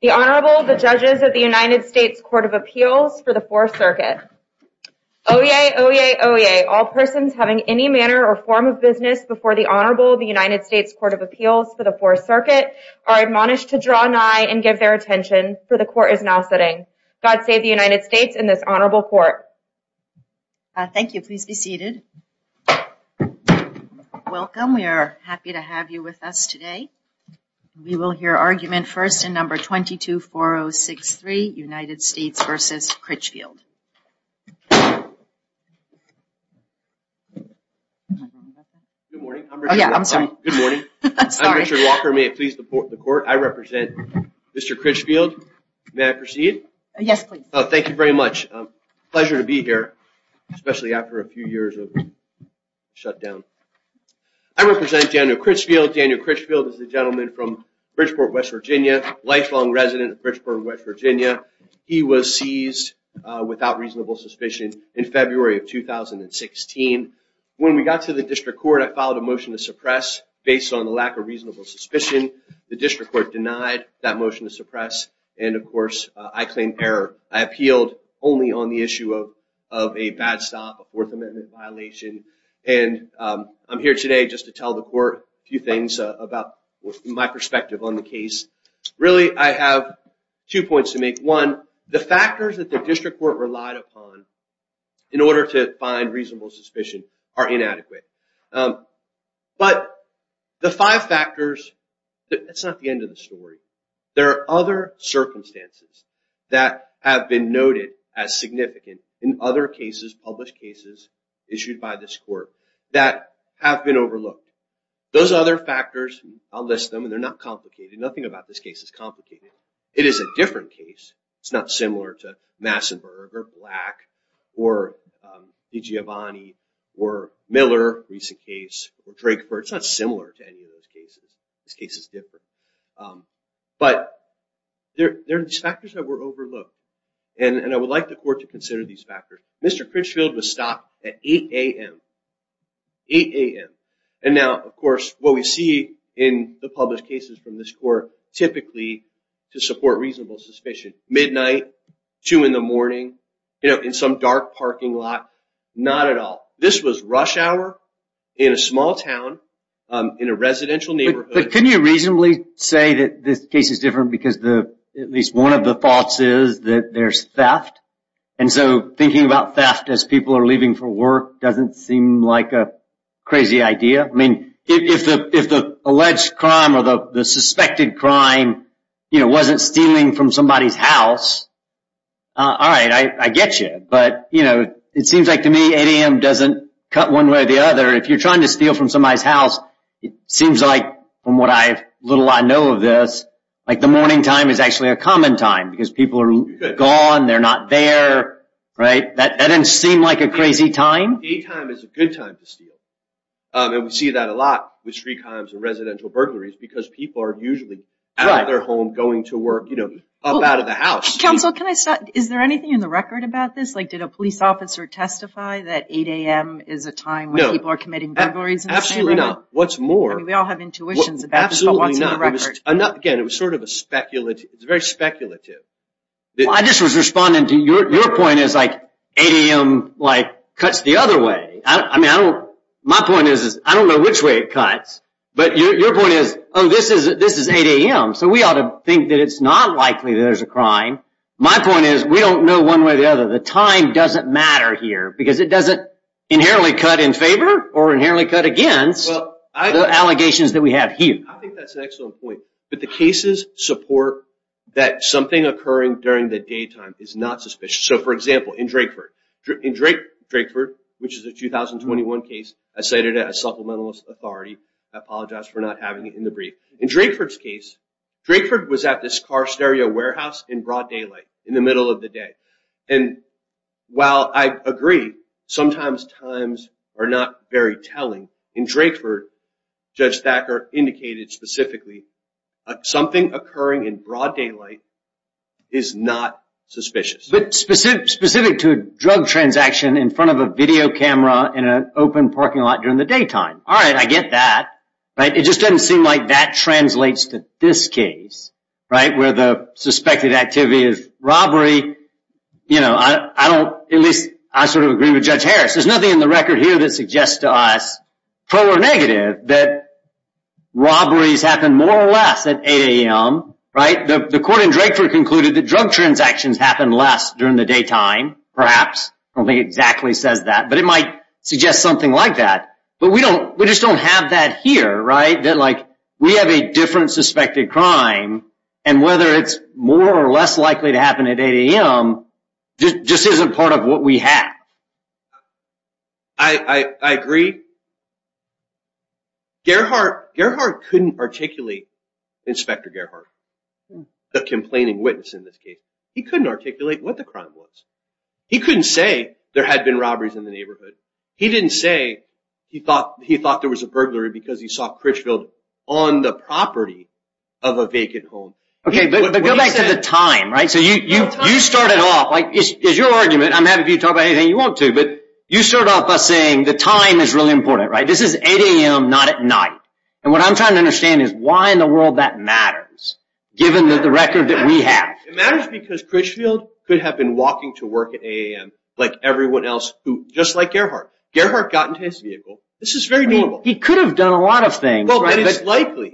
The Honorable, the Judges of the United States Court of Appeals for the Fourth Circuit. Oyez! Oyez! Oyez! All persons having any manner or form of business before the Honorable of the United States Court of Appeals for the Fourth Circuit are admonished to draw nigh and give their attention, for the Court is now sitting. God save the United States and this Honorable Court. Thank you, please be seated. Welcome, we are happy to have you with us today. We will hear argument first in number 22-4063, United States v. Critchfield. Good morning, I'm Richard Walker, may it please the Court, I represent Mr. Critchfield, may I pleasure to be here, especially after a few years of shutdown. I represent Daniel Critchfield, Daniel Critchfield is a gentleman from Bridgeport, West Virginia, lifelong resident of Bridgeport, West Virginia. He was seized without reasonable suspicion in February of 2016. When we got to the District Court, I filed a motion to suppress based on the lack of reasonable suspicion. The District Court denied that motion to suppress, and of course, I claim error. I appealed only on the issue of a bad stop, a Fourth Amendment violation, and I'm here today just to tell the Court a few things about my perspective on the case. Really, I have two points to make. One, the factors that the District Court relied upon in order to find reasonable suspicion are inadequate. But the five factors, that's not the end of the story. There are other factors that are included as significant in other cases, published cases issued by this Court, that have been overlooked. Those other factors, I'll list them, and they're not complicated, nothing about this case is complicated. It is a different case, it's not similar to Massenburg, or Black, or DiGiovanni, or Miller, recent case, or Drakeford, it's not similar to any of those cases, this case is different. But there are factors that were overlooked, and I would like the Court to consider these factors. Mr. Critchfield was stopped at 8 a.m., 8 a.m., and now, of course, what we see in the published cases from this Court, typically, to support reasonable suspicion, midnight, 2 in the morning, in some dark parking lot, not at all. This was rush hour, in a small town, in a residential neighborhood. Can you reasonably say that this case is different because at least one of the faults is that there's theft? And so, thinking about theft as people are leaving for work doesn't seem like a crazy idea. I mean, if the alleged crime, or the suspected crime, wasn't stealing from somebody's house, alright, I get you, but it seems like to me 8 a.m. doesn't cut one way or the other. If you're trying to steal from somebody's house, it seems like, from what little I know of this, the morning time is actually a common time, because people are gone, they're not there, right? That doesn't seem like a crazy time. Daytime is a good time to steal, and we see that a lot with street crimes and residential burglaries because people are usually out of their home, going to work, you know, up out of the house. Counsel, can I stop? Is there anything in the record about this? Like, did a police officer testify that 8 a.m. is a time when people are committing burglaries in the same room? No, absolutely not. What's more, I'm not, again, it was sort of a speculative, it was very speculative. I just was responding to your point, it's like 8 a.m. cuts the other way. I mean, my point is, I don't know which way it cuts, but your point is, oh, this is 8 a.m., so we ought to think that it's not likely that there's a crime. My point is, we don't know one way or the other. The time doesn't matter here, because it doesn't inherently cut in favor or inherently cut against the allegations that we have here. I think that's an excellent point, but the cases support that something occurring during the daytime is not suspicious. So, for example, in Drakeford, which is a 2021 case, I cited it as supplemental authority. I apologize for not having it in the brief. In Drakeford's case, Drakeford was at this car stereo warehouse in broad daylight, in the middle of the day. And while I agree, sometimes times are not very telling. In Drakeford, Judge Thacker indicated specifically, something occurring in broad daylight is not suspicious. But specific to a drug transaction in front of a video camera in an open parking lot during the daytime. All right, I get that. It just doesn't seem like that translates to this case, where the suspected activity is robbery. I sort of agree with Judge Harris. There's nothing in the record here that suggests to us, pro or negative, that robberies happen more or less at 8 a.m. The court in Drakeford concluded that drug transactions happen less during the daytime, perhaps. I don't think it exactly says that, but it might suggest something like that. But we just don't have that here, that we have a different suspected crime, and whether it's more or less likely to happen at 8 a.m. just isn't part of what we have. I agree. Gerhardt couldn't articulate, Inspector Gerhardt, the complaining witness in this case. He couldn't articulate what the crime was. He couldn't say there had been robberies in the neighborhood. He didn't say he thought there was a burglary because he was in Critchfield on the property of a vacant home. Okay, but go back to the time, right? So you started off, like, it's your argument. I'm happy for you to talk about anything you want to, but you start off by saying the time is really important, right? This is 8 a.m., not at night. And what I'm trying to understand is why in the world that matters, given the record that we have. It matters because Critchfield could have been walking to work at 8 a.m. like everyone else, just like Gerhardt. Gerhardt got into his vehicle. This is very normal. He could have done a lot of things. He could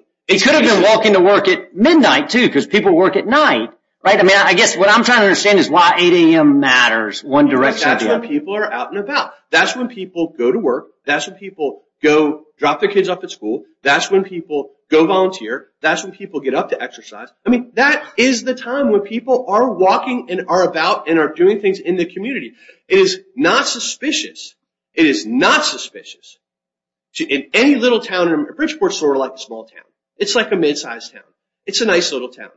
have been walking to work at midnight, too, because people work at night. I guess what I'm trying to understand is why 8 a.m. matters. That's when people are out and about. That's when people go to work. That's when people drop their kids off at school. That's when people go volunteer. That's when people get up to exercise. I mean, that is the time when people are walking and are about and are doing things in the little town. Bridgeport is sort of like a small town. It's like a mid-sized town. It's a nice little town.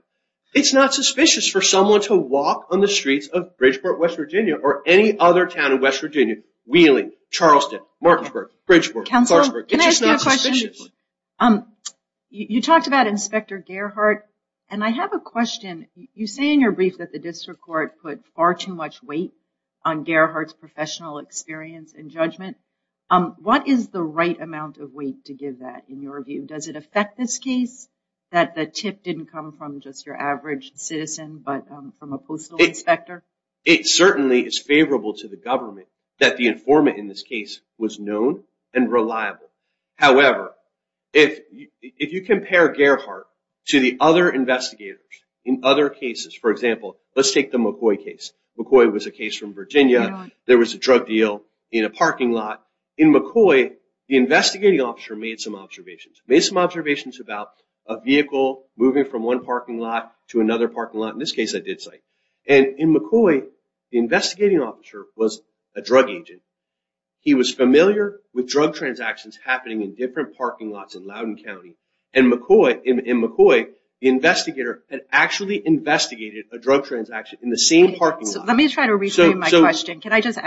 It's not suspicious for someone to walk on the streets of Bridgeport, West Virginia, or any other town in West Virginia. Wheeling, Charleston, Martinsburg, Bridgeport, Clarksburg. Counsel, can I ask you a question? You talked about Inspector Gerhardt, and I have a question. You say in your brief that the district court put far too much weight on Gerhardt's professional experience and judgment. What is the right amount of weight to give that, in your view? Does it affect this case that the tip didn't come from just your average citizen, but from a postal inspector? It certainly is favorable to the government that the informant in this case was known and reliable. However, if you compare Gerhardt to the other investigators in other cases, for example, let's take the McCoy case. McCoy was a case from Virginia. There was a drug in a parking lot. In McCoy, the investigating officer made some observations about a vehicle moving from one parking lot to another parking lot. In this case, I did cite. In McCoy, the investigating officer was a drug agent. He was familiar with drug transactions happening in different parking lots in Loudoun County. In McCoy, the investigator had actually investigated a drug transaction in the same parking lot. Let me try to rephrase my question. Can I just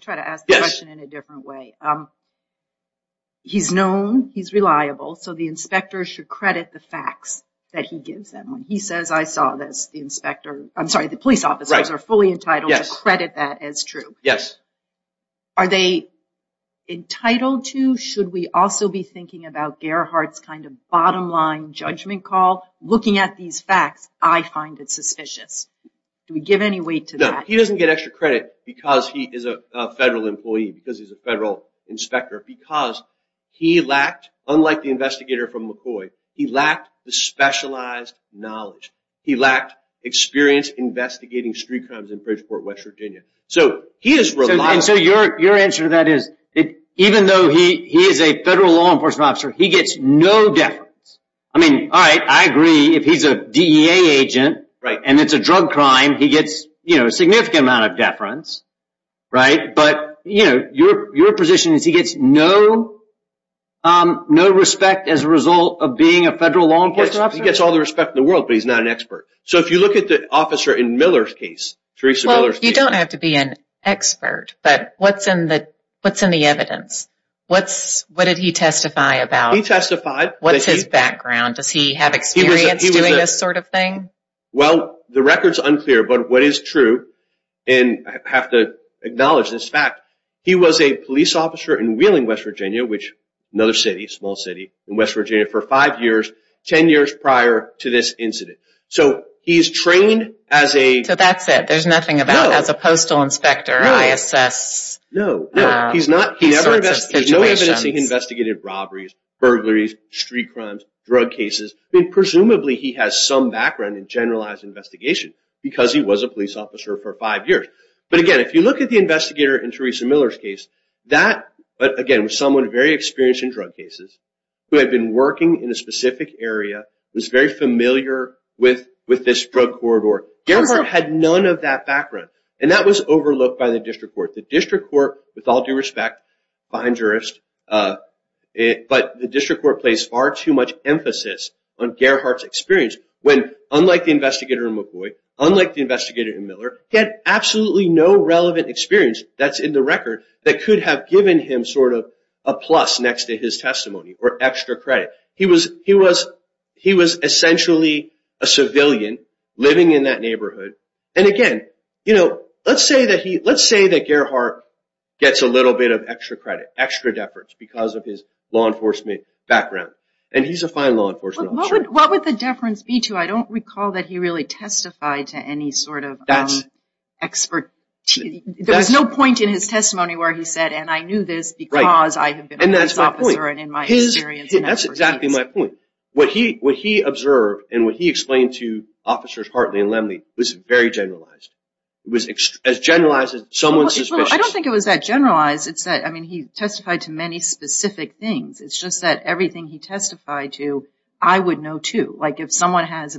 try to ask the question in a different way? He's known, he's reliable, so the inspector should credit the facts that he gives them. When he says, I saw this, the police officers are fully entitled to credit that as true. Are they entitled to? Should we also be thinking about Gerhardt's kind of bottom line judgment call? Looking at these facts, I find it suspicious. Do we give any weight to that? No, he doesn't get extra credit because he is a federal employee, because he's a federal inspector, because he lacked, unlike the investigator from McCoy, he lacked the specialized knowledge. He lacked experience investigating street crimes in Bridgeport, West Virginia. So he is reliable. So your answer to that is, even though he is a federal law enforcement officer, he gets no deference. I mean, all right, I agree if he's a DEA agent and it's a drug crime, he gets, you know, a significant amount of deference, right? But, you know, your position is he gets no respect as a result of being a federal law enforcement officer? He gets all the respect in the world, but he's not an expert. So if you look at the officer in Miller's case, Theresa Miller's case. You don't have to be an expert, but what's in the evidence? What did he testify about? He testified. What's his background? Does he have experience doing this sort of thing? Well, the record's unclear, but what is true, and I have to acknowledge this fact, he was a police officer in Wheeling, West Virginia, which another city, small city in West Virginia, for five years, ten years prior to this incident. So he's trained as a... So that's it, there's nothing about as a postal inspector, ISS... No, no, he's not. He's never investigated robberies, burglaries, street robberies. He has no background in generalized investigation, because he was a police officer for five years. But again, if you look at the investigator in Theresa Miller's case, that, again, was someone very experienced in drug cases, who had been working in a specific area, was very familiar with this drug corridor. Gerhardt had none of that background, and that was overlooked by the district court. The district court, with all due respect, fine jurist, but the district court placed far too much emphasis on Gerhardt's experience, when, unlike the investigator in McCoy, unlike the investigator in Miller, he had absolutely no relevant experience that's in the record that could have given him sort of a plus next to his testimony, or extra credit. He was essentially a civilian living in that neighborhood, and again, you know, let's say that Gerhardt gets a little bit of extra credit, extra deference, because of his law enforcement background, and he's a fine law enforcement officer. What would the deference be to? I don't recall that he really testified to any sort of expertise. There was no point in his testimony where he said, and I knew this because I have been a police officer, and in my experience... That's exactly my point. What he observed, and what he explained to officers Hartley and Lemley, was very generalized. It was as generalized as someone's suspicion. I don't think it was that generalized. It's that, I mean, he testified to many specific things. It's just that everything he testified to, I would know too, like if someone has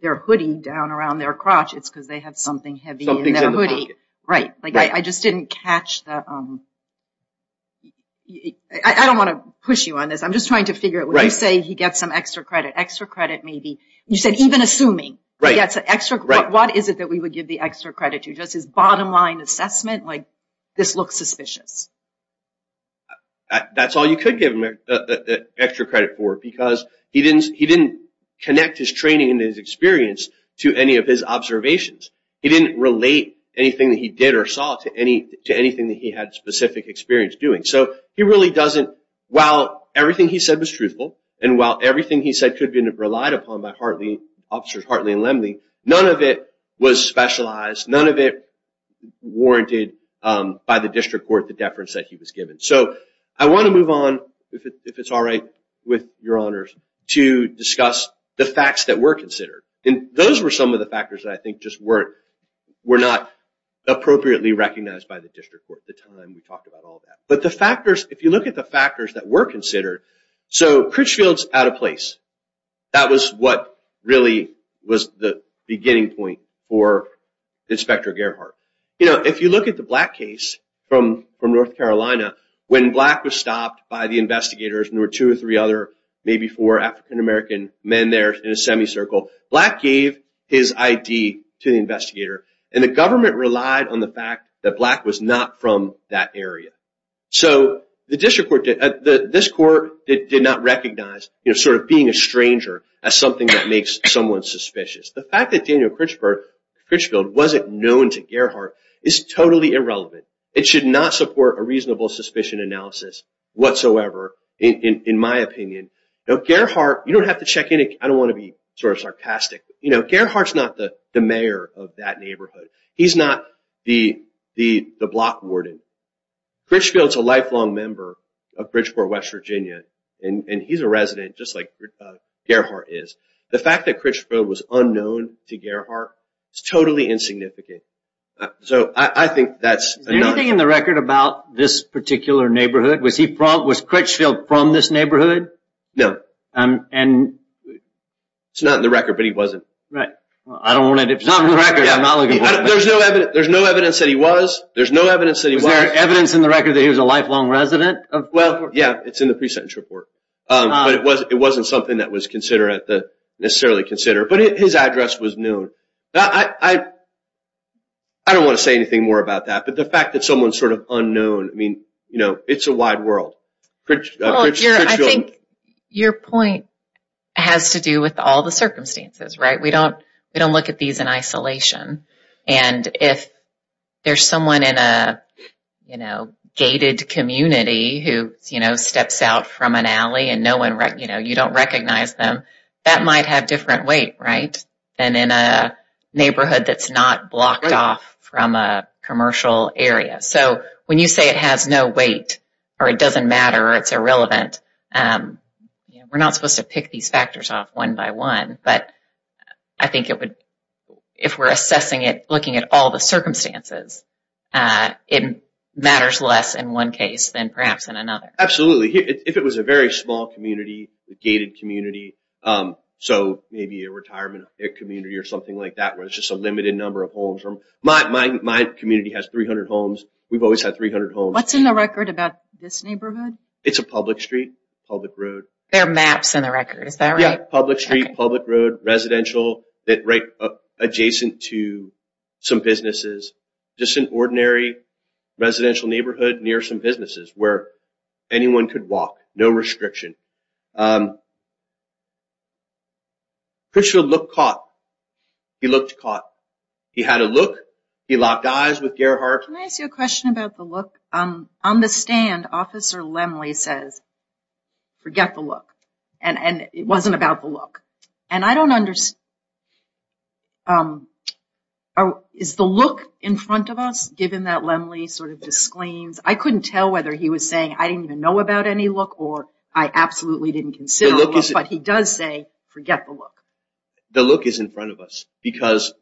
their hoodie down around their crotch, it's because they have something heavy in their hoodie. Right, like I just didn't catch that. I don't want to push you on this. I'm just trying to figure it. When you say he gets some extra credit, extra credit may be, you said even assuming, what is it that we would give the extra credit to? Just his bottom line assessment, like this looks suspicious. That's all you could give him extra credit for, because he didn't connect his training and his experience to any of his observations. He didn't relate anything that he did or saw to anything that he had specific experience doing. So he really doesn't, while everything he said was truthful, and while everything he said could have been relied upon by Officers Hartley and Lemley, none of it was specialized, none of it warranted by the district court the deference that he was given. So I want to move on, if it's all right with your honors, to discuss the facts that were considered. And those were some of the factors that I think just were not appropriately recognized by the district court at the time we talked about all that. But the factors, if you look at the factors that were considered, so Critchfield's out of place. That was what really was the beginning point for Inspector Gerhart. You know, if you look at the Black case from North Carolina, when Black was stopped by the investigators, and there were two or three other, maybe four African American men there in a semicircle, Black gave his ID to the investigator. And the government relied on the fact that Black was not from that area. So the that makes someone suspicious. The fact that Daniel Critchfield wasn't known to Gerhart is totally irrelevant. It should not support a reasonable suspicion analysis whatsoever, in my opinion. Now Gerhart, you don't have to check in, I don't want to be sort of sarcastic, you know, Gerhart's not the mayor of that neighborhood. He's not the block warden. Critchfield's a lifelong member of Bridgeport, West Virginia. And he's a resident, just like Gerhart is. The fact that Critchfield was unknown to Gerhart is totally insignificant. So I think that's... Is there anything in the record about this particular neighborhood? Was Critchfield from this neighborhood? No. And... It's not in the record, but he wasn't. Right. I don't want to... If it's not in the record, I'm not looking for evidence. There's no evidence that he was. There's no evidence that he was a lifelong resident of Bridgeport. Well, yeah, it's in the pre-sentence report. But it wasn't something that was necessarily considered. But his address was known. I don't want to say anything more about that, but the fact that someone's sort of unknown, I mean, you know, it's a wide world. I think your point has to do with all the circumstances, right? We don't look at these in isolation. And if there's someone in a, you know, gated community who, you know, steps out from an alley and no one, you know, you don't recognize them, that might have different weight, right, than in a neighborhood that's not blocked off from a commercial area. So when you say it has no weight, or it doesn't matter, or it's irrelevant, we're not supposed to pick these if we're assessing it, looking at all the circumstances. It matters less in one case than perhaps in another. Absolutely. If it was a very small community, gated community, so maybe a retirement community or something like that, where it's just a limited number of homes. My community has 300 homes. We've always had 300 homes. What's in the record about this neighborhood? It's a public street, public road. There are maps in the record, is that right? Yeah, public street, public road, residential, right adjacent to some businesses, just an ordinary residential neighborhood near some businesses where anyone could walk. No restriction. Pritchfield looked caught. He looked caught. He had a look. He locked eyes with Gerhardt. Can I ask you a question about the look? On the stand, Officer Lemley says, forget the look. It wasn't about the look. Is the look in front of us, given that Lemley sort of disclaims? I couldn't tell whether he was saying, I didn't even know about any look, or I absolutely didn't consider the look, but he does say, forget the look. The look is in front of us because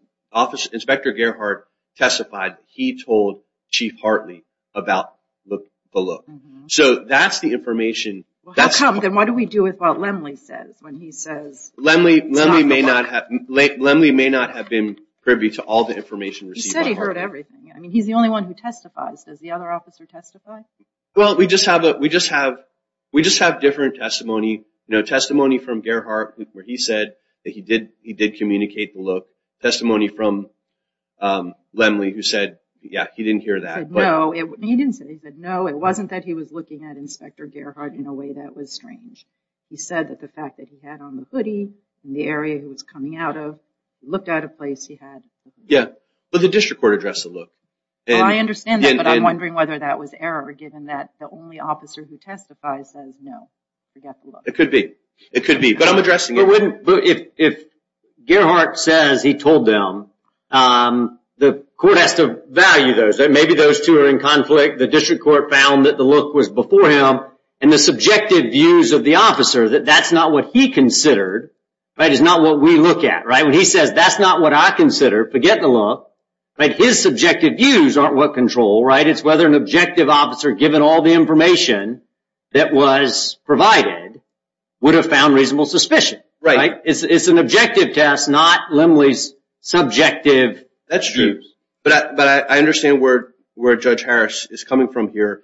Inspector Gerhardt testified he told Chief Hartley about the look. So that's the information. Then what do we do with what Lemley says? Lemley may not have been privy to all the information received. He said he heard everything. He's the only one who testifies. Does the other officer testify? Well, we just have different testimony. Testimony from Gerhardt where he said that he did communicate the look. Testimony from Lemley who said, yeah, he didn't hear that. He didn't say that. No, it wasn't that he was looking at Inspector Gerhardt in a way that was strange. He said that the fact that he had on the hoodie in the area he was coming out of, he looked at a place he had. Yeah, but the district court addressed the look. I understand that, but I'm wondering whether that was error given that the only officer who testifies says, no, forget the look. It could be. It could be, but I'm addressing it. If Gerhardt says he told them, the court has to value those. Maybe those two are in conflict. The district court found that the look was before him and the subjective views of the officer that that's not what he considered is not what we look at. When he says that's not what I consider, forget the look. His subjective views aren't what control. It's whether an objective officer, given all the information that was provided, would have found reasonable suspicion. Right. It's an objective test, not Lemley's subjective. That's true, but I understand where Judge Harris is coming from here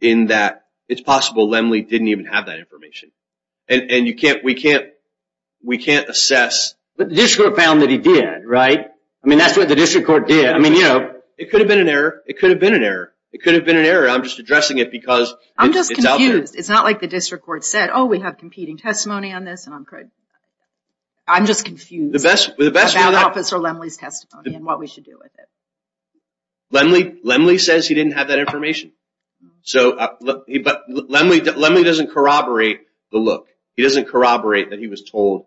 in that it's possible Lemley didn't even have that information and we can't assess. But the district court found that he did, right? I mean, that's what the district court did. I mean, you know. It could have been an error. It could have been an error. It could have been an error. I'm just addressing it because it's out there. I'm just confused. It's not like the district court said, oh, we have competing testimony on this. I'm just confused about Officer Lemley's testimony and what we should do with it. Lemley says he didn't have that information. Lemley doesn't corroborate the look. He doesn't corroborate that he was told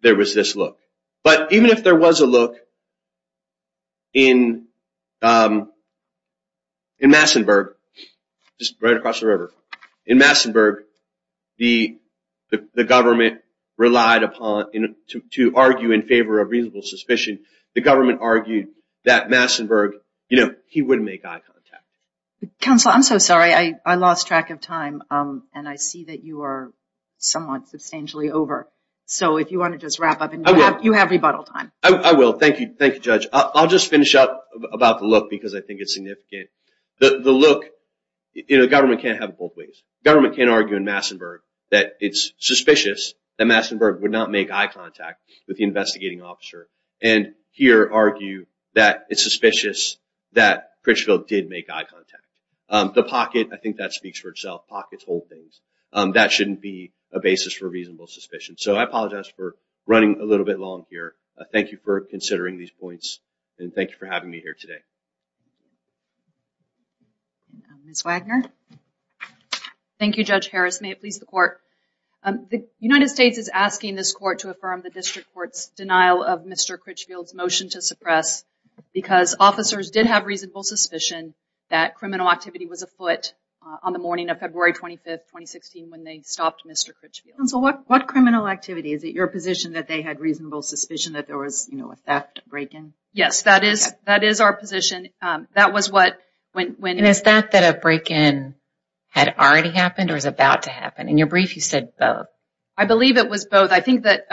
there was this look. But even if there was a look in Massenburg, just right across the river, in Massenburg, the government relied upon to argue in favor of reasonable suspicion. The government argued that Massenburg, you know, he wouldn't make eye contact. Counselor, I'm so sorry. I lost track of time and I see that you are somewhat substantially over. So if you want to just wrap up and you have rebuttal time. I will. Thank you. Thank you, Judge. I'll just finish up about the look because I think it's significant. The look, you know, government can't have it both ways. Government can't argue in Massenburg that it's suspicious that Massenburg would not make eye contact with the investigating officer and here argue that it's suspicious that Pritchfield did make eye contact. The pocket, I think that speaks for itself. Pockets hold things. That shouldn't be a basis for reasonable suspicion. So I apologize for running a little bit long here. Thank you for considering these points and thank you for having me here today. Ms. Wagner. Thank you, Judge Harris. May it please the court. The United States is asking this court to affirm the district court's denial of Mr. Critchfield's motion to suppress because officers did have reasonable suspicion that criminal activity was afoot on the morning of February 25th, 2016 when they stopped Mr. Critchfield. So what criminal activity? Is it your position that they had reasonable suspicion that there was, you know, a theft break-in? Yes, that is our position. That was what when... And is that that a break-in had already happened or is about to happen? In your brief, you said both. I believe it was both. I think that...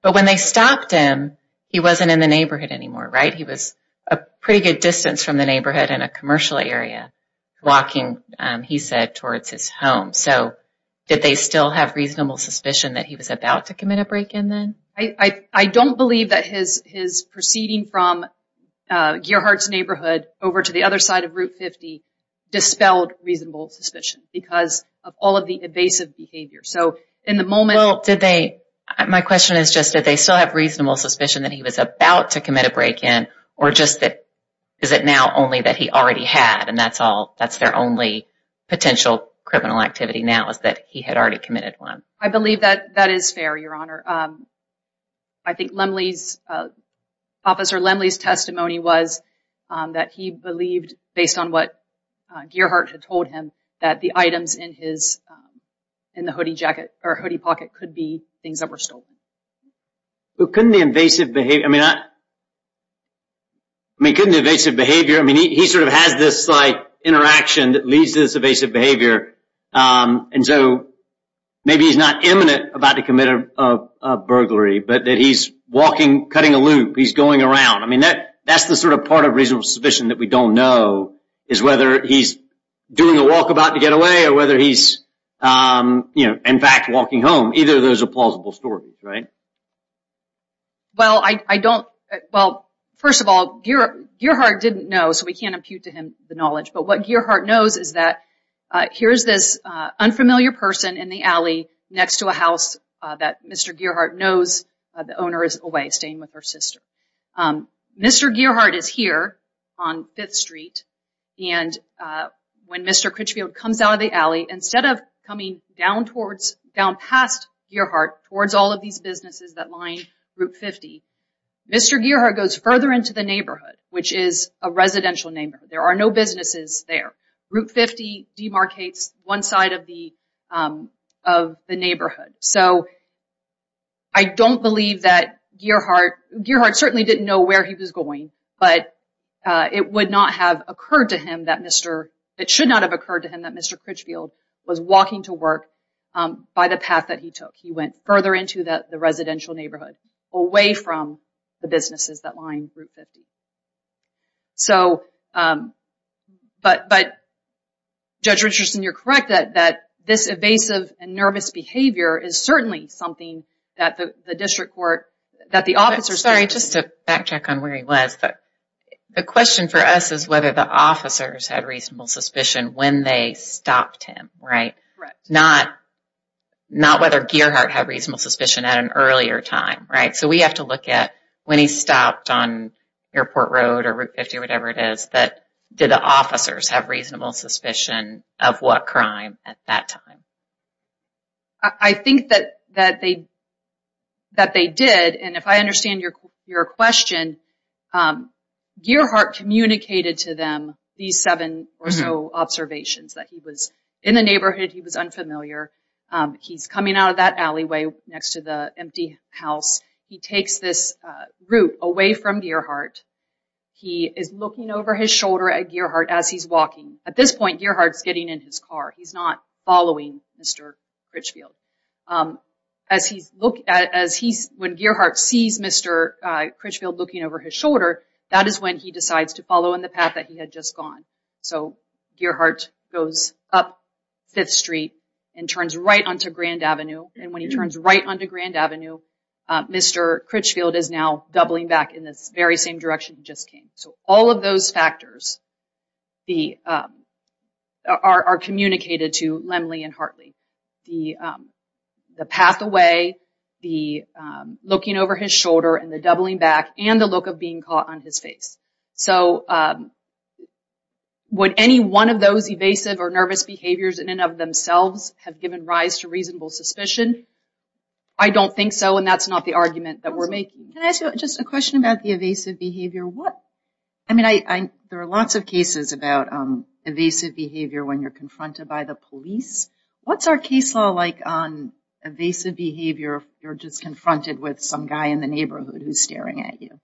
But when they stopped him, he wasn't in the neighborhood anymore, right? He was a pretty good distance from the neighborhood in a commercial area walking, he said, towards his home. So did they still have reasonable suspicion that he was about to commit a break-in then? I don't believe that his proceeding from Gearheart's neighborhood over to the other side of Route 50 dispelled reasonable suspicion because of all of the evasive behavior. So in the moment... Well, did they... My question is just, did they still have reasonable suspicion that he was about to commit a break-in or just that... Is it now only that he already had and that's all... That's their only potential criminal activity now is that he had already committed one? I believe that that is fair, Your Honor. I think Lemley's... Officer Lemley's testimony was that he believed, based on what Gearheart had told him, that the items in his... In the hoodie jacket or hoodie pocket could be things that were stolen. But couldn't the invasive behavior... I mean, I... I mean, couldn't the invasive behavior... I mean, he sort of has this, like, interaction that leads to this evasive behavior. And so maybe he's not imminent about to commit a burglary, but that he's walking, cutting a loop, he's going around. I mean, that's the sort of part of reasonable suspicion that we don't know is whether he's doing a walkabout to get away or whether he's, you know, in fact, walking home. Either of those are plausible stories, right? Well, I don't... Well, first of all, Gearheart didn't know, so we can't impute to him the knowledge. But what Gearheart knows is that here's this unfamiliar person in the alley next to a house that Mr. Gearheart knows the owner is away, staying with her sister. Mr. Gearheart is here on Fifth Street and when Mr. Critchfield comes out of the alley, instead of coming down towards, down past Gearheart, towards all of these businesses that line Route 50, Mr. Gearheart goes further into the neighborhood, which is a residential neighborhood. There are no businesses there. Route 50 demarcates one side of the neighborhood. So I don't believe that Gearheart... Gearheart certainly didn't know where he was going, but it would not have occurred to him that Mr., it should not have occurred to him that Mr. Critchfield was walking to work by the path that he took. He went further into the residential neighborhood, away from the businesses that line Route 50. So, but Judge Richardson, you're correct that this evasive and nervous behavior is certainly something that the district court, that the the question for us is whether the officers had reasonable suspicion when they stopped him, right? Not, not whether Gearheart had reasonable suspicion at an earlier time, right? So we have to look at when he stopped on Airport Road or Route 50 or whatever it is, that did the officers have reasonable suspicion of what crime at that time? I think that, that they, that they did and if I Gearheart communicated to them these seven or so observations that he was in the neighborhood, he was unfamiliar. He's coming out of that alleyway next to the empty house. He takes this route away from Gearheart. He is looking over his shoulder at Gearheart as he's walking. At this point, Gearheart's getting in his car. He's not following Mr. Critchfield. As he's at, as he's, when Gearheart sees Mr. Critchfield looking over his shoulder, that is when he decides to follow in the path that he had just gone. So Gearheart goes up Fifth Street and turns right onto Grand Avenue and when he turns right onto Grand Avenue, Mr. Critchfield is now doubling back in this very same direction he just came. So all of those factors, the, are communicated to the, looking over his shoulder and the doubling back and the look of being caught on his face. So would any one of those evasive or nervous behaviors in and of themselves have given rise to reasonable suspicion? I don't think so and that's not the argument that we're making. Can I ask you just a question about the evasive behavior? What, I mean, I, I, there are lots of cases about evasive behavior when you're confronted by the police. What's our case law like on evasive behavior if you're just confronted with some guy in the neighborhood who's staring at you?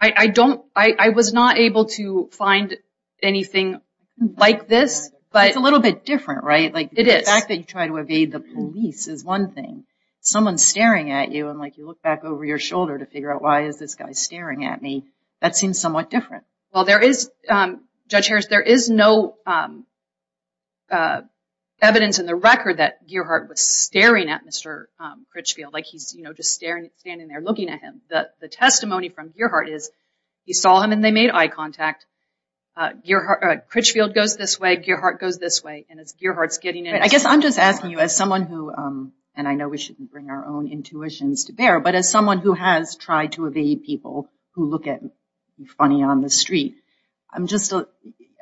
I, I don't, I, I was not able to find anything like this, but... It's a little bit different, right? Like... It is. The fact that you try to evade the police is one thing. Someone's staring at you and like you look back over your shoulder to figure out why is this guy staring at me? That seems somewhat different. Well, there is, Judge Harris, there is no evidence in the record that Gearhart was staring at Mr. Critchfield like he's, you know, just staring, standing there looking at him. The, the testimony from Gearhart is he saw him and they made eye contact. Gearhart, Critchfield goes this way, Gearhart goes this way, and as Gearhart's getting in... I guess I'm just asking you as someone who, and I know we shouldn't bring our own intuitions to bear, but as someone who has tried to evade people who look at me funny on the street, I'm just,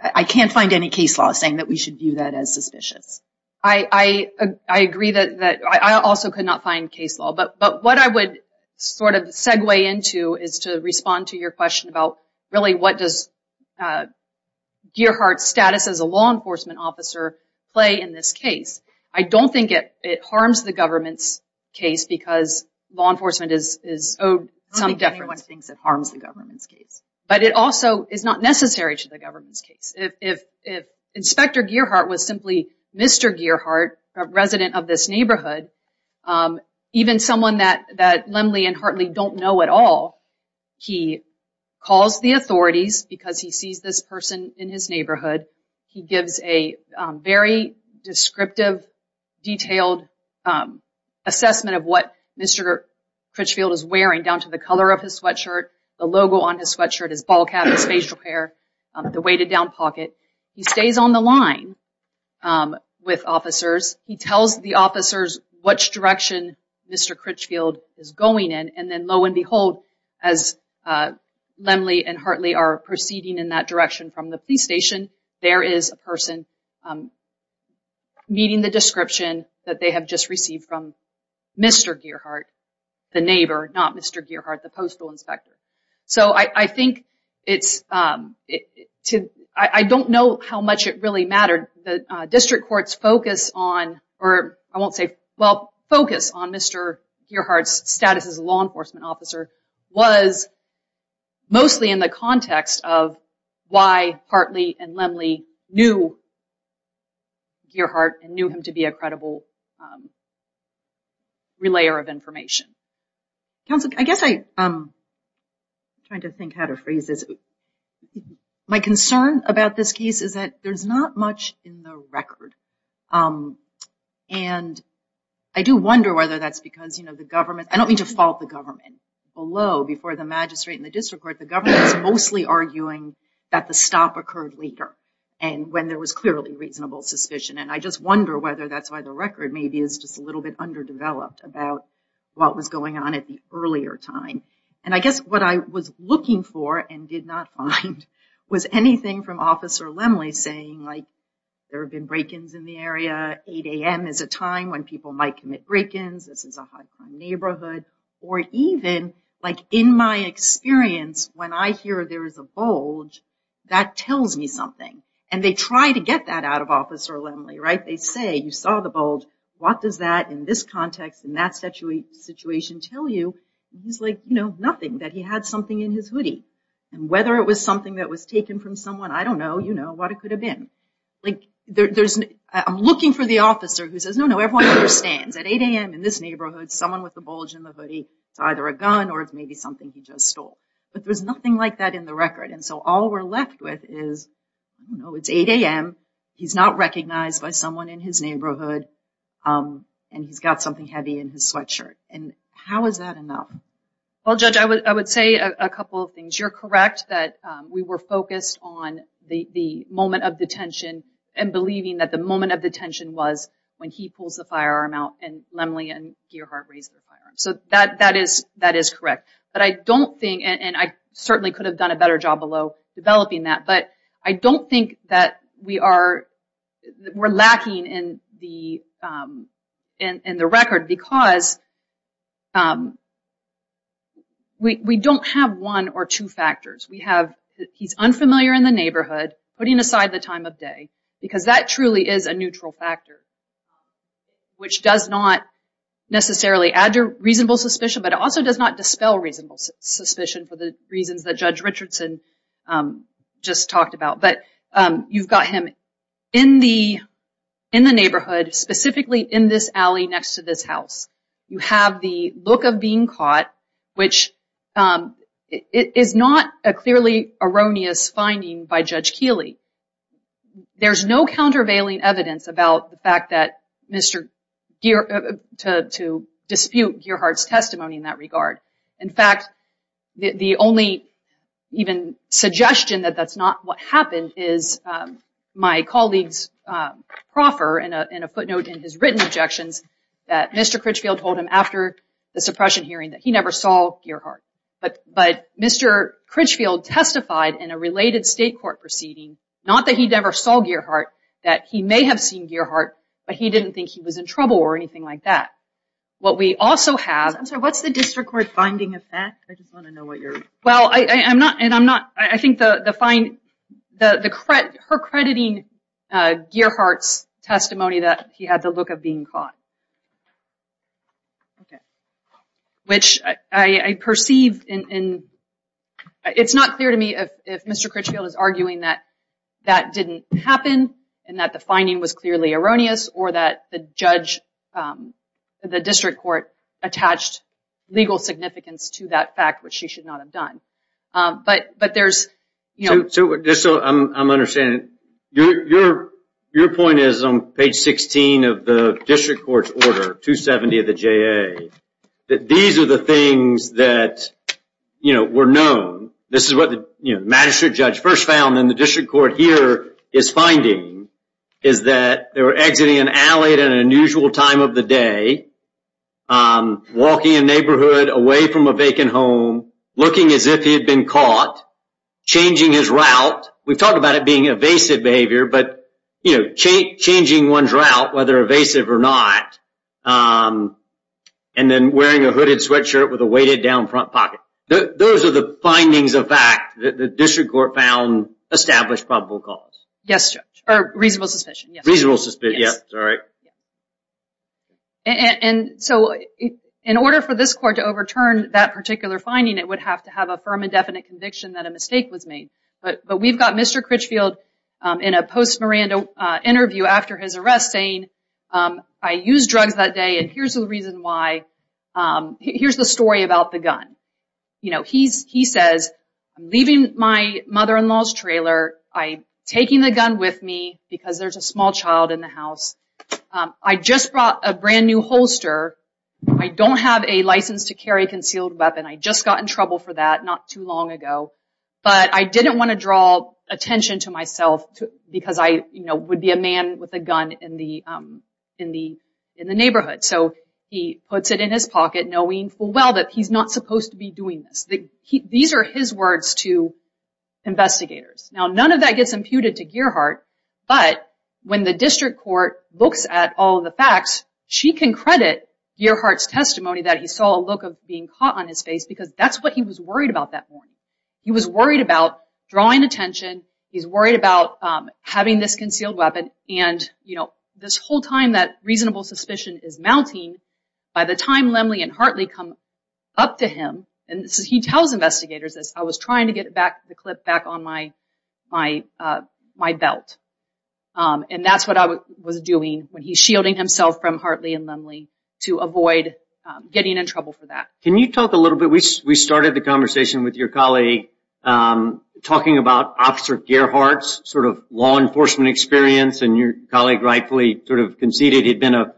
I can't find any case law saying that we should view that as suspicious. I, I, I agree that, that I also could not find case law, but, but what I would sort of segue into is to respond to your question about really what does, uh, Gearhart's status as a law enforcement officer play in this case? I don't think it, it harms the government's case because law enforcement is, is owed some... But it also is not necessary to the government's case. If, if, if Inspector Gearhart was simply Mr. Gearhart, a resident of this neighborhood, um, even someone that, that Lemley and Hartley don't know at all, he calls the authorities because he sees this person in his neighborhood. He gives a, um, very descriptive, detailed, um, assessment of what Mr. Critchfield is wearing down to the color of his sweatshirt, the logo on his sweatshirt, his ball cap, his facial hair, the weighted down pocket. He stays on the line, um, with officers. He tells the officers which direction Mr. Critchfield is going in, and then lo and behold, as, uh, Lemley and Hartley are proceeding in that direction from the police station, there is a person, um, meeting the Mr. Gearhart, the postal inspector. So I, I think it's, um, it, to, I, I don't know how much it really mattered. The, uh, district court's focus on, or I won't say, well, focus on Mr. Gearhart's status as a law enforcement officer was mostly in the context of why Hartley and Lemley knew Gearhart and knew him to be a credible, um, relayer of information. Counsel, I guess I, um, trying to think how to phrase this. My concern about this case is that there's not much in the record, um, and I do wonder whether that's because, you know, the government, I don't mean to fault the government. Below, before the magistrate and the district court, the government is mostly arguing that the stop occurred later and when there was clearly reasonable suspicion. And I just wonder whether that's why the record maybe is just a little bit underdeveloped about what was going on at the earlier time. And I guess what I was looking for and did not find was anything from Officer Lemley saying, like, there have been break-ins in the area. 8 a.m. is a time when people might commit break-ins. This is a high crime neighborhood. Or even, like, in my experience, when I hear there is a bulge, that tells me something. And they try to get that out of Officer Lemley, right? They say, you saw the bulge. What does that in this context in that situation tell you? He's like, you know, nothing. That he had something in his hoodie. And whether it was something that was taken from someone, I don't know. You know what it could have been. Like, there's, I'm looking for the officer who says, no, no, everyone understands. At 8 a.m. in this neighborhood, someone with the bulge in the hoodie, it's either a gun or it's maybe something he just stole. But there's nothing like that in the record. And so all we're left with is, you know, it's 8 a.m., he's not recognized by someone in his neighborhood, and he's got something heavy in his sweatshirt. And how is that enough? Well, Judge, I would say a couple of things. You're correct that we were focused on the moment of detention and believing that the moment of detention was when he pulls the firearm out and Lemley and Gearhart raise the firearm. So that is correct. But I don't think, and I certainly could have done a better job below developing that, but I don't think that we are, we're lacking in the record because we don't have one or two factors. We have he's unfamiliar in the neighborhood, putting aside the time of day, because that truly is a neutral factor, which does not necessarily add to reasonable suspicion, but it also does not dispel reasonable suspicion for the reasons that Judge Richardson just talked about. But you've got him in the neighborhood, specifically in this alley next to this house. You have the look of being caught, which is not a clearly erroneous finding by Judge Keeley. There's no countervailing evidence about the fact that Mr. Gearhart, to dispute Gearhart's testimony in that regard. In fact, the only even suggestion that that's not what happened is my colleague's proffer in a footnote in his written objections that Mr. Critchfield told him after the suppression hearing that he never saw Gearhart. But Mr. Critchfield testified in a related state court proceeding, not that he never saw Gearhart, that he may have seen Gearhart, but he didn't think he was in trouble or anything like that. What we also have... I'm sorry, what's the district court finding of that? I just want to know what you're... Well, I think her crediting Gearhart's testimony that he had the look of being caught. Okay. Which I perceive in... It's not clear to me if Mr. Critchfield is saying that it didn't happen and that the finding was clearly erroneous or that the judge, the district court attached legal significance to that fact, which she should not have done. But there's... Just so I'm understanding, your point is on page 16 of the district court's order 270 of the JA, that these are the things that were known. This is what the magistrate judge first found and the district court here is finding is that they were exiting an alley at an unusual time of the day, walking a neighborhood away from a vacant home, looking as if he had been caught, changing his route. We've talked about it being evasive behavior, but changing one's route, whether evasive or not, and then wearing a hooded sweatshirt with a weighted down front pocket. Those are the findings of fact that the district court found established probable cause. Yes, Judge, or reasonable suspicion. Reasonable suspicion, yes. Sorry. And so in order for this court to overturn that particular finding, it would have to have a firm and definite conviction that a mistake was made. But we've got Mr. Critchfield in a post-Miranda interview after his arrest saying, I used drugs that day and here's the reason why. Here's the story about the gun. He says, I'm leaving my mother-in-law's trailer. I'm taking the gun with me because there's a small child in the house. I just brought a brand new holster. I don't have a license to carry a concealed weapon. I just got in trouble for that not too long ago. But I didn't want to draw attention to myself because I would be a man with a gun in the neighborhood. So he puts it in his pocket knowing full well that he's not supposed to be doing this. These are his words to investigators. Now, none of that gets imputed to Gearhart, but when the district court looks at all the facts, she can credit Gearhart's testimony that he saw a look of being caught on his face because that's what he was worried about that morning. He was worried about drawing attention. He's worried about having this concealed weapon. And this whole time that reasonable suspicion is mounting, by the time Lemley and Hartley come up to him, and he tells investigators this, I was trying to get the clip back on my belt. And that's what I was doing when he's shielding himself from Hartley and Lemley to avoid getting in trouble for that. Can you talk a little bit, we started the conversation with your colleague talking about Officer Gearhart's sort of law enforcement experience and your colleague sort of conceded he'd been a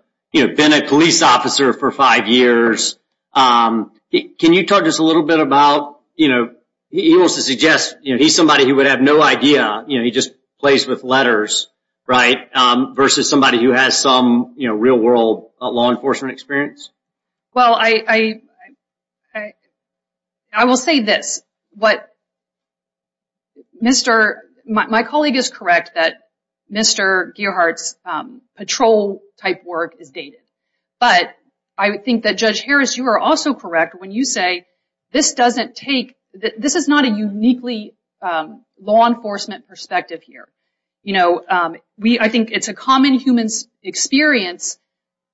police officer for five years. Can you talk just a little bit about, you know, he wants to suggest he's somebody who would have no idea, you know, he just plays with letters, right? Versus somebody who has some real world law enforcement experience. Well, I will say this. My colleague is correct that Mr. Gearhart's patrol type work is dated. But I think that Judge Harris, you are also correct when you say this doesn't take, this is not a uniquely law enforcement perspective here. You know, I think it's a common human experience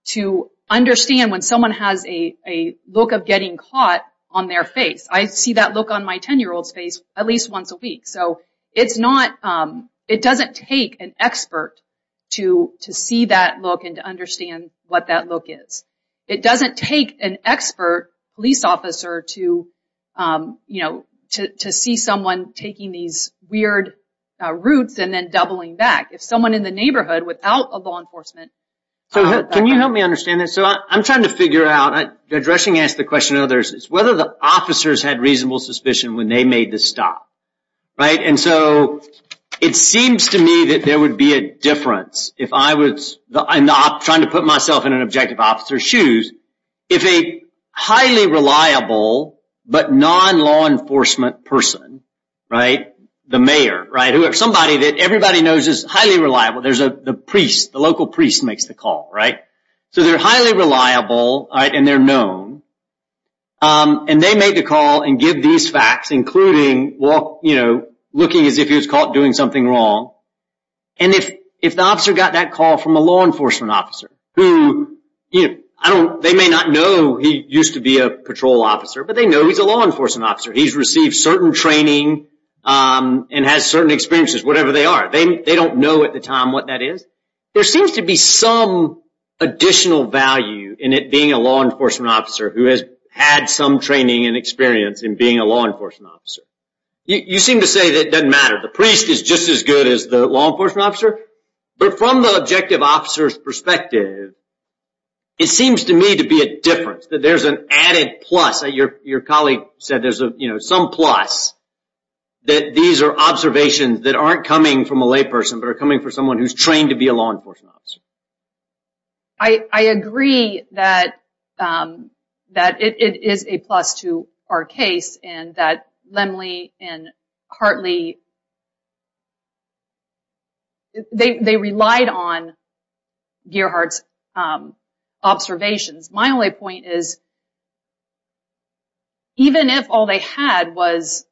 to understand when someone has a look of getting caught on their face. I see that look on my 10-year-old's face at least once a week. So it's not, it doesn't take an expert to see that look and to understand what that look is. It doesn't take an expert police officer to, you know, to see someone taking these weird routes and then doubling back. If someone in the neighborhood without a law enforcement. So can you help me understand this? So I'm trying to figure out, addressing the question to others, is whether the officers had reasonable suspicion when they made the stop, right? And so it seems to me that there would be a difference if I was trying to put myself in an objective officer's shoes. If a highly reliable but non-law enforcement person, right? The mayor, right? Somebody that everybody knows is highly reliable. There's a priest, the local priest makes the call, right? So they're highly reliable, right? And they're known. And they made the call and give these facts including, you know, looking as if he was caught doing something wrong. And if the officer got that call from a law enforcement officer, who, you know, I don't, they may not know he used to be a patrol officer, but they know he's a law officer, has certain training, and has certain experiences, whatever they are. They don't know at the time what that is. There seems to be some additional value in it being a law enforcement officer who has had some training and experience in being a law enforcement officer. You seem to say that doesn't matter. The priest is just as good as the law enforcement officer. But from the objective officer's perspective, it seems to me to be a difference, that there's an added plus. Your colleague said there's a, you know, some plus that these are observations that aren't coming from a layperson, but are coming from someone who's trained to be a law enforcement officer. I agree that it is a plus to our case and that Lemley and Hartley, they relied on Gearhart's observations. My only point is, even if all they had was,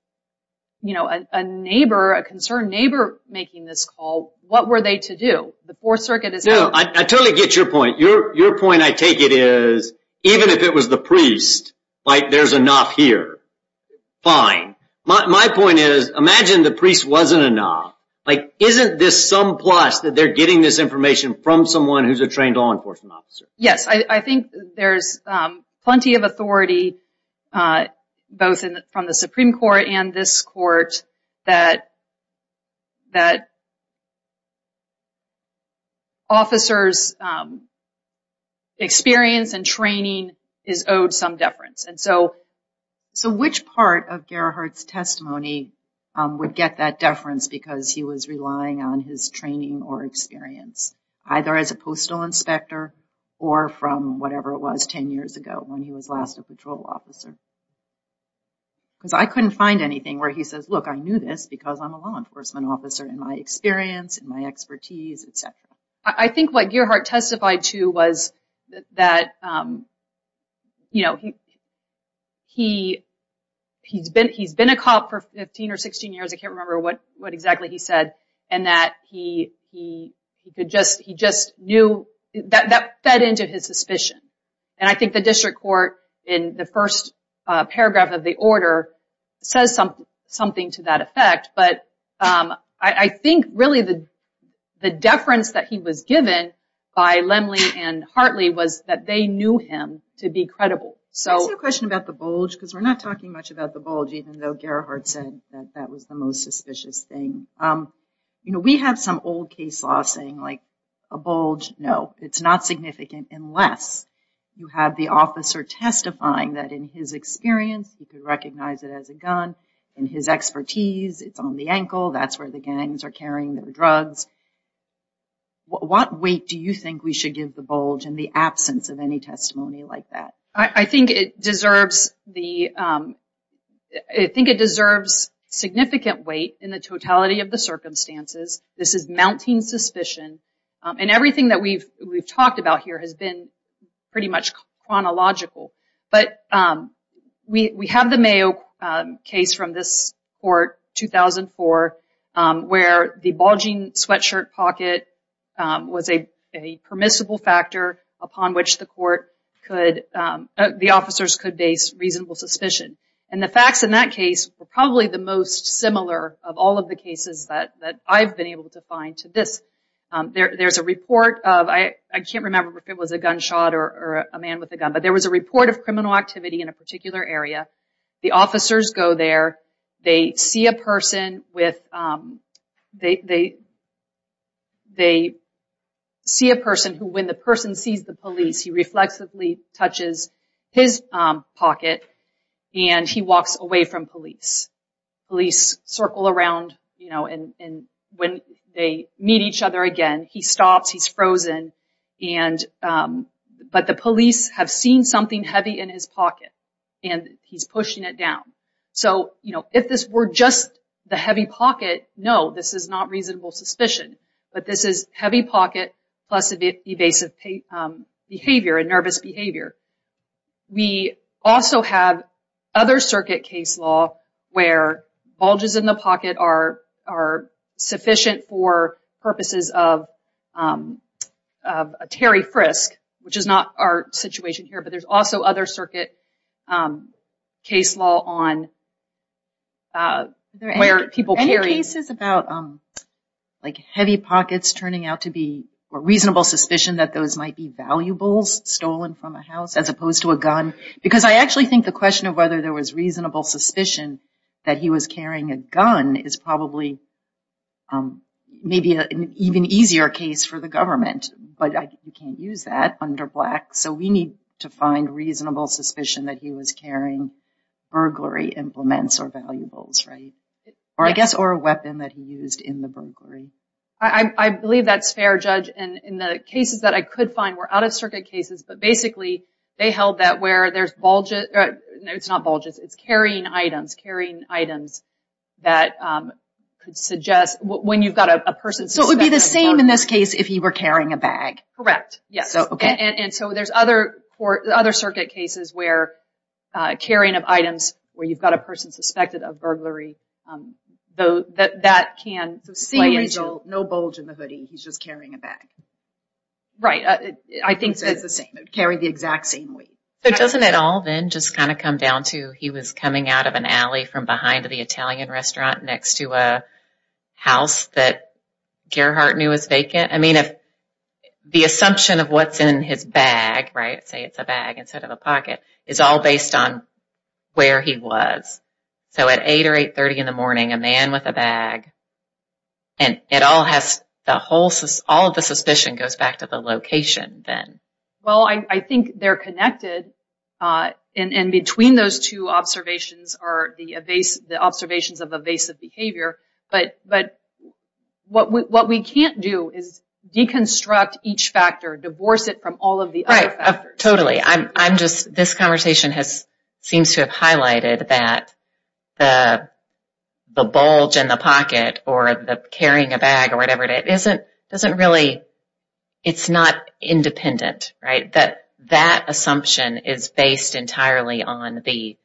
you know, a neighbor, a concerned neighbor making this call, what were they to do? The Fourth Circuit is... No, I totally get your point. Your point, I take it, is even if it was the priest, like there's enough here. Fine. My point is, imagine the priest wasn't enough. Like, isn't this some plus that they're getting this information from someone who's a trained law enforcement officer? Yes, I think there's plenty of authority, both from the Supreme Court and this Court, that officers' experience and training is owed some deference. And so, which part of Gearhart's testimony would get that deference because he was relying on his training or experience, either as a postal inspector or from whatever it was 10 years ago when he was last a patrol officer? Because I couldn't find anything where he says, look, I knew this because I'm a law enforcement officer in my experience, in my expertise, etc. I think what Gearhart testified to was that, you know, he's been a cop for 15 or 16 years. I can't remember what exactly he said. And that he could just... He just knew... That fed into his suspicion. And I think the District Court, in the first paragraph of the order, says something to that effect. But I think, really, the deference that he was given by Lemley and Hartley was that they knew him to be credible. So... I have a question about the bulge, because we're not talking much about the bulge, even though Gearhart said that that was the most suspicious thing. You know, we have some old case law saying, like, a bulge, no, it's not significant unless you have the officer testifying that, in his experience, he could recognize it as a gun. In his expertise, it's on the ankle. That's where the gangs are carrying the drugs. What weight do you think we should give the bulge in the absence of any testimony like that? I think it deserves the... I think it deserves significant weight in the totality of the circumstances. This is mounting suspicion. And everything that we've talked about here has been pretty much chronological. But we have the court, 2004, where the bulging sweatshirt pocket was a permissible factor upon which the court could... the officers could base reasonable suspicion. And the facts in that case were probably the most similar of all of the cases that I've been able to find to this. There's a report of... I can't remember if it was a gunshot or a man with a gun, but there was a activity in a particular area. The officers go there. They see a person with... They see a person who, when the person sees the police, he reflexively touches his pocket, and he walks away from police. Police circle around, you know, and when they meet each other he stops. He's frozen. But the police have seen something heavy in his pocket, and he's pushing it down. So, you know, if this were just the heavy pocket, no, this is not reasonable suspicion. But this is heavy pocket plus evasive behavior and nervous behavior. We also have other circuit case law where bulges in the pocket are sufficient for a Terry Frisk, which is not our situation here, but there's also other circuit case law on where people carry... Any cases about, like, heavy pockets turning out to be a reasonable suspicion that those might be valuables stolen from a house as opposed to a gun? Because I actually think the question of whether there was reasonable suspicion that he was carrying a gun is probably maybe an even easier case for the government, but you can't use that under black. So we need to find reasonable suspicion that he was carrying burglary implements or valuables, right? Or, I guess, or a weapon that he used in the burglary. I believe that's fair, Judge. And the cases that I could find were out-of-circuit cases, but basically they held that where there's bulges... No, it's not bulges. It's carrying items, carrying items that could suggest when you've got a person... So it would be the same in this case if he were carrying a bag? Correct. Yes. Okay. And so there's other circuit cases where carrying of items where you've got a person suspected of burglary, that can... No bulge in the hoodie. He's just carrying a bag. Right. I think it's the same. It would carry the exact same weight. But doesn't it all then just kind of come down to he was coming out of an alley from behind the Italian restaurant next to a house that Gerhardt knew was vacant? I mean, if the assumption of what's in his bag, right, say it's a bag instead of a pocket, is all based on where he was. So at all of the suspicion goes back to the location then. Well, I think they're connected. And between those two observations are the observations of evasive behavior. But what we can't do is deconstruct each factor, divorce it from all of the other factors. Right. Totally. I'm just... This conversation seems to have highlighted that the bulge in the pocket or the carrying a bag or doesn't really... It's not independent, right? That that assumption is based entirely on the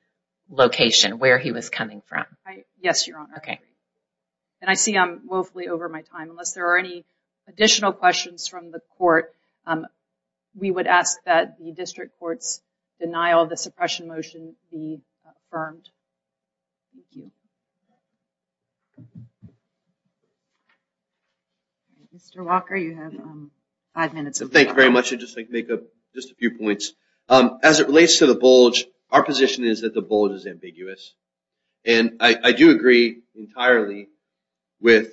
location where he was coming from. Yes, Your Honor. Okay. And I see I'm woefully over my time. Unless there are any additional questions from the court, we would ask that the district denial of the suppression motion be affirmed. Thank you. Mr. Walker, you have five minutes. Thank you very much. I'd just like to make up just a few points. As it relates to the bulge, our position is that the bulge is ambiguous. And I do agree entirely with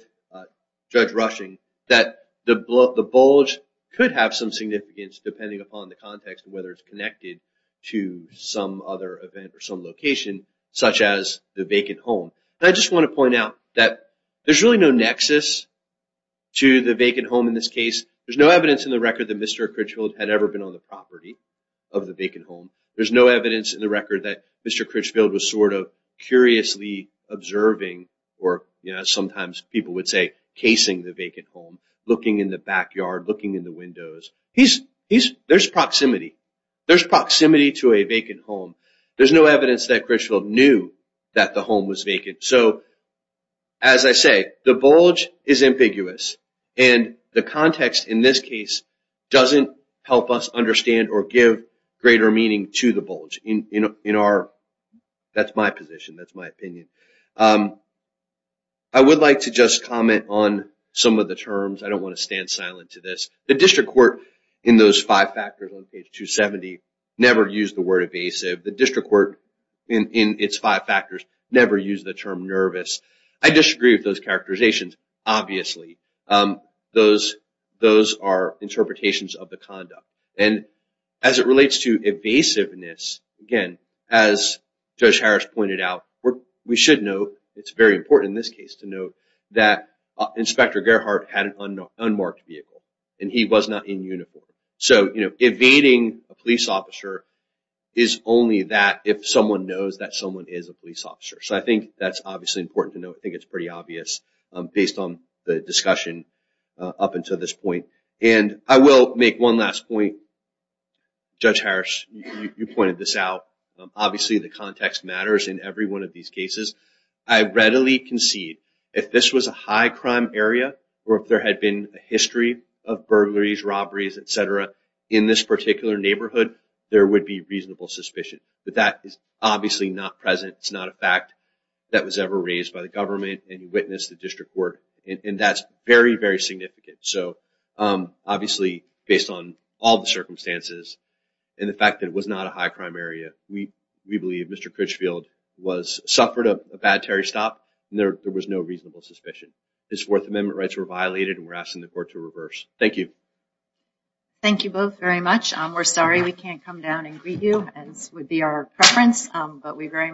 Judge Rushing that the bulge could have some significance depending upon the context of whether it's connected to some other event or some location such as the vacant home. I just want to point out that there's really no nexus to the vacant home in this case. There's no evidence in the record that Mr. Critchfield had ever been on the property of the vacant home. There's no evidence in the record that Mr. Critchfield was sort of curiously observing or sometimes people would say casing the vacant home, looking in the backyard, looking in the windows. There's proximity. There's proximity to a vacant home. There's no evidence that Critchfield knew that the home was vacant. So as I say, the bulge is ambiguous. And the context in this case doesn't help us understand or give greater meaning to the bulge. That's my position, that's my opinion. I would like to just comment on some of the terms. I don't want to stand silent to this. The district court in those five factors on page 270 never used the word evasive. The district court in its five factors never used the term nervous. I disagree with those characterizations, obviously. Those are interpretations of the conduct. And as it should note, it's very important in this case to note that Inspector Gerhardt had an unmarked vehicle and he was not in uniform. So evading a police officer is only that if someone knows that someone is a police officer. So I think that's obviously important to note. I think it's pretty obvious based on the discussion up until this point. And I will make one last point. Judge Harris, you pointed this out. Obviously, the context matters in every one of these cases. I readily concede if this was a high crime area or if there had been a history of burglaries, robberies, et cetera, in this particular neighborhood, there would be reasonable suspicion. But that is obviously not present. It's not a fact that was ever raised by the government. And you witnessed the district court. And that's very, very significant. So based on all the circumstances and the fact that it was not a high crime area, we believe Mr. Critchfield suffered a bad Terry stop and there was no reasonable suspicion. His Fourth Amendment rights were violated and we're asking the court to reverse. Thank you. Thank you both very much. We're sorry we can't come down and greet you as would be our preference. But we very much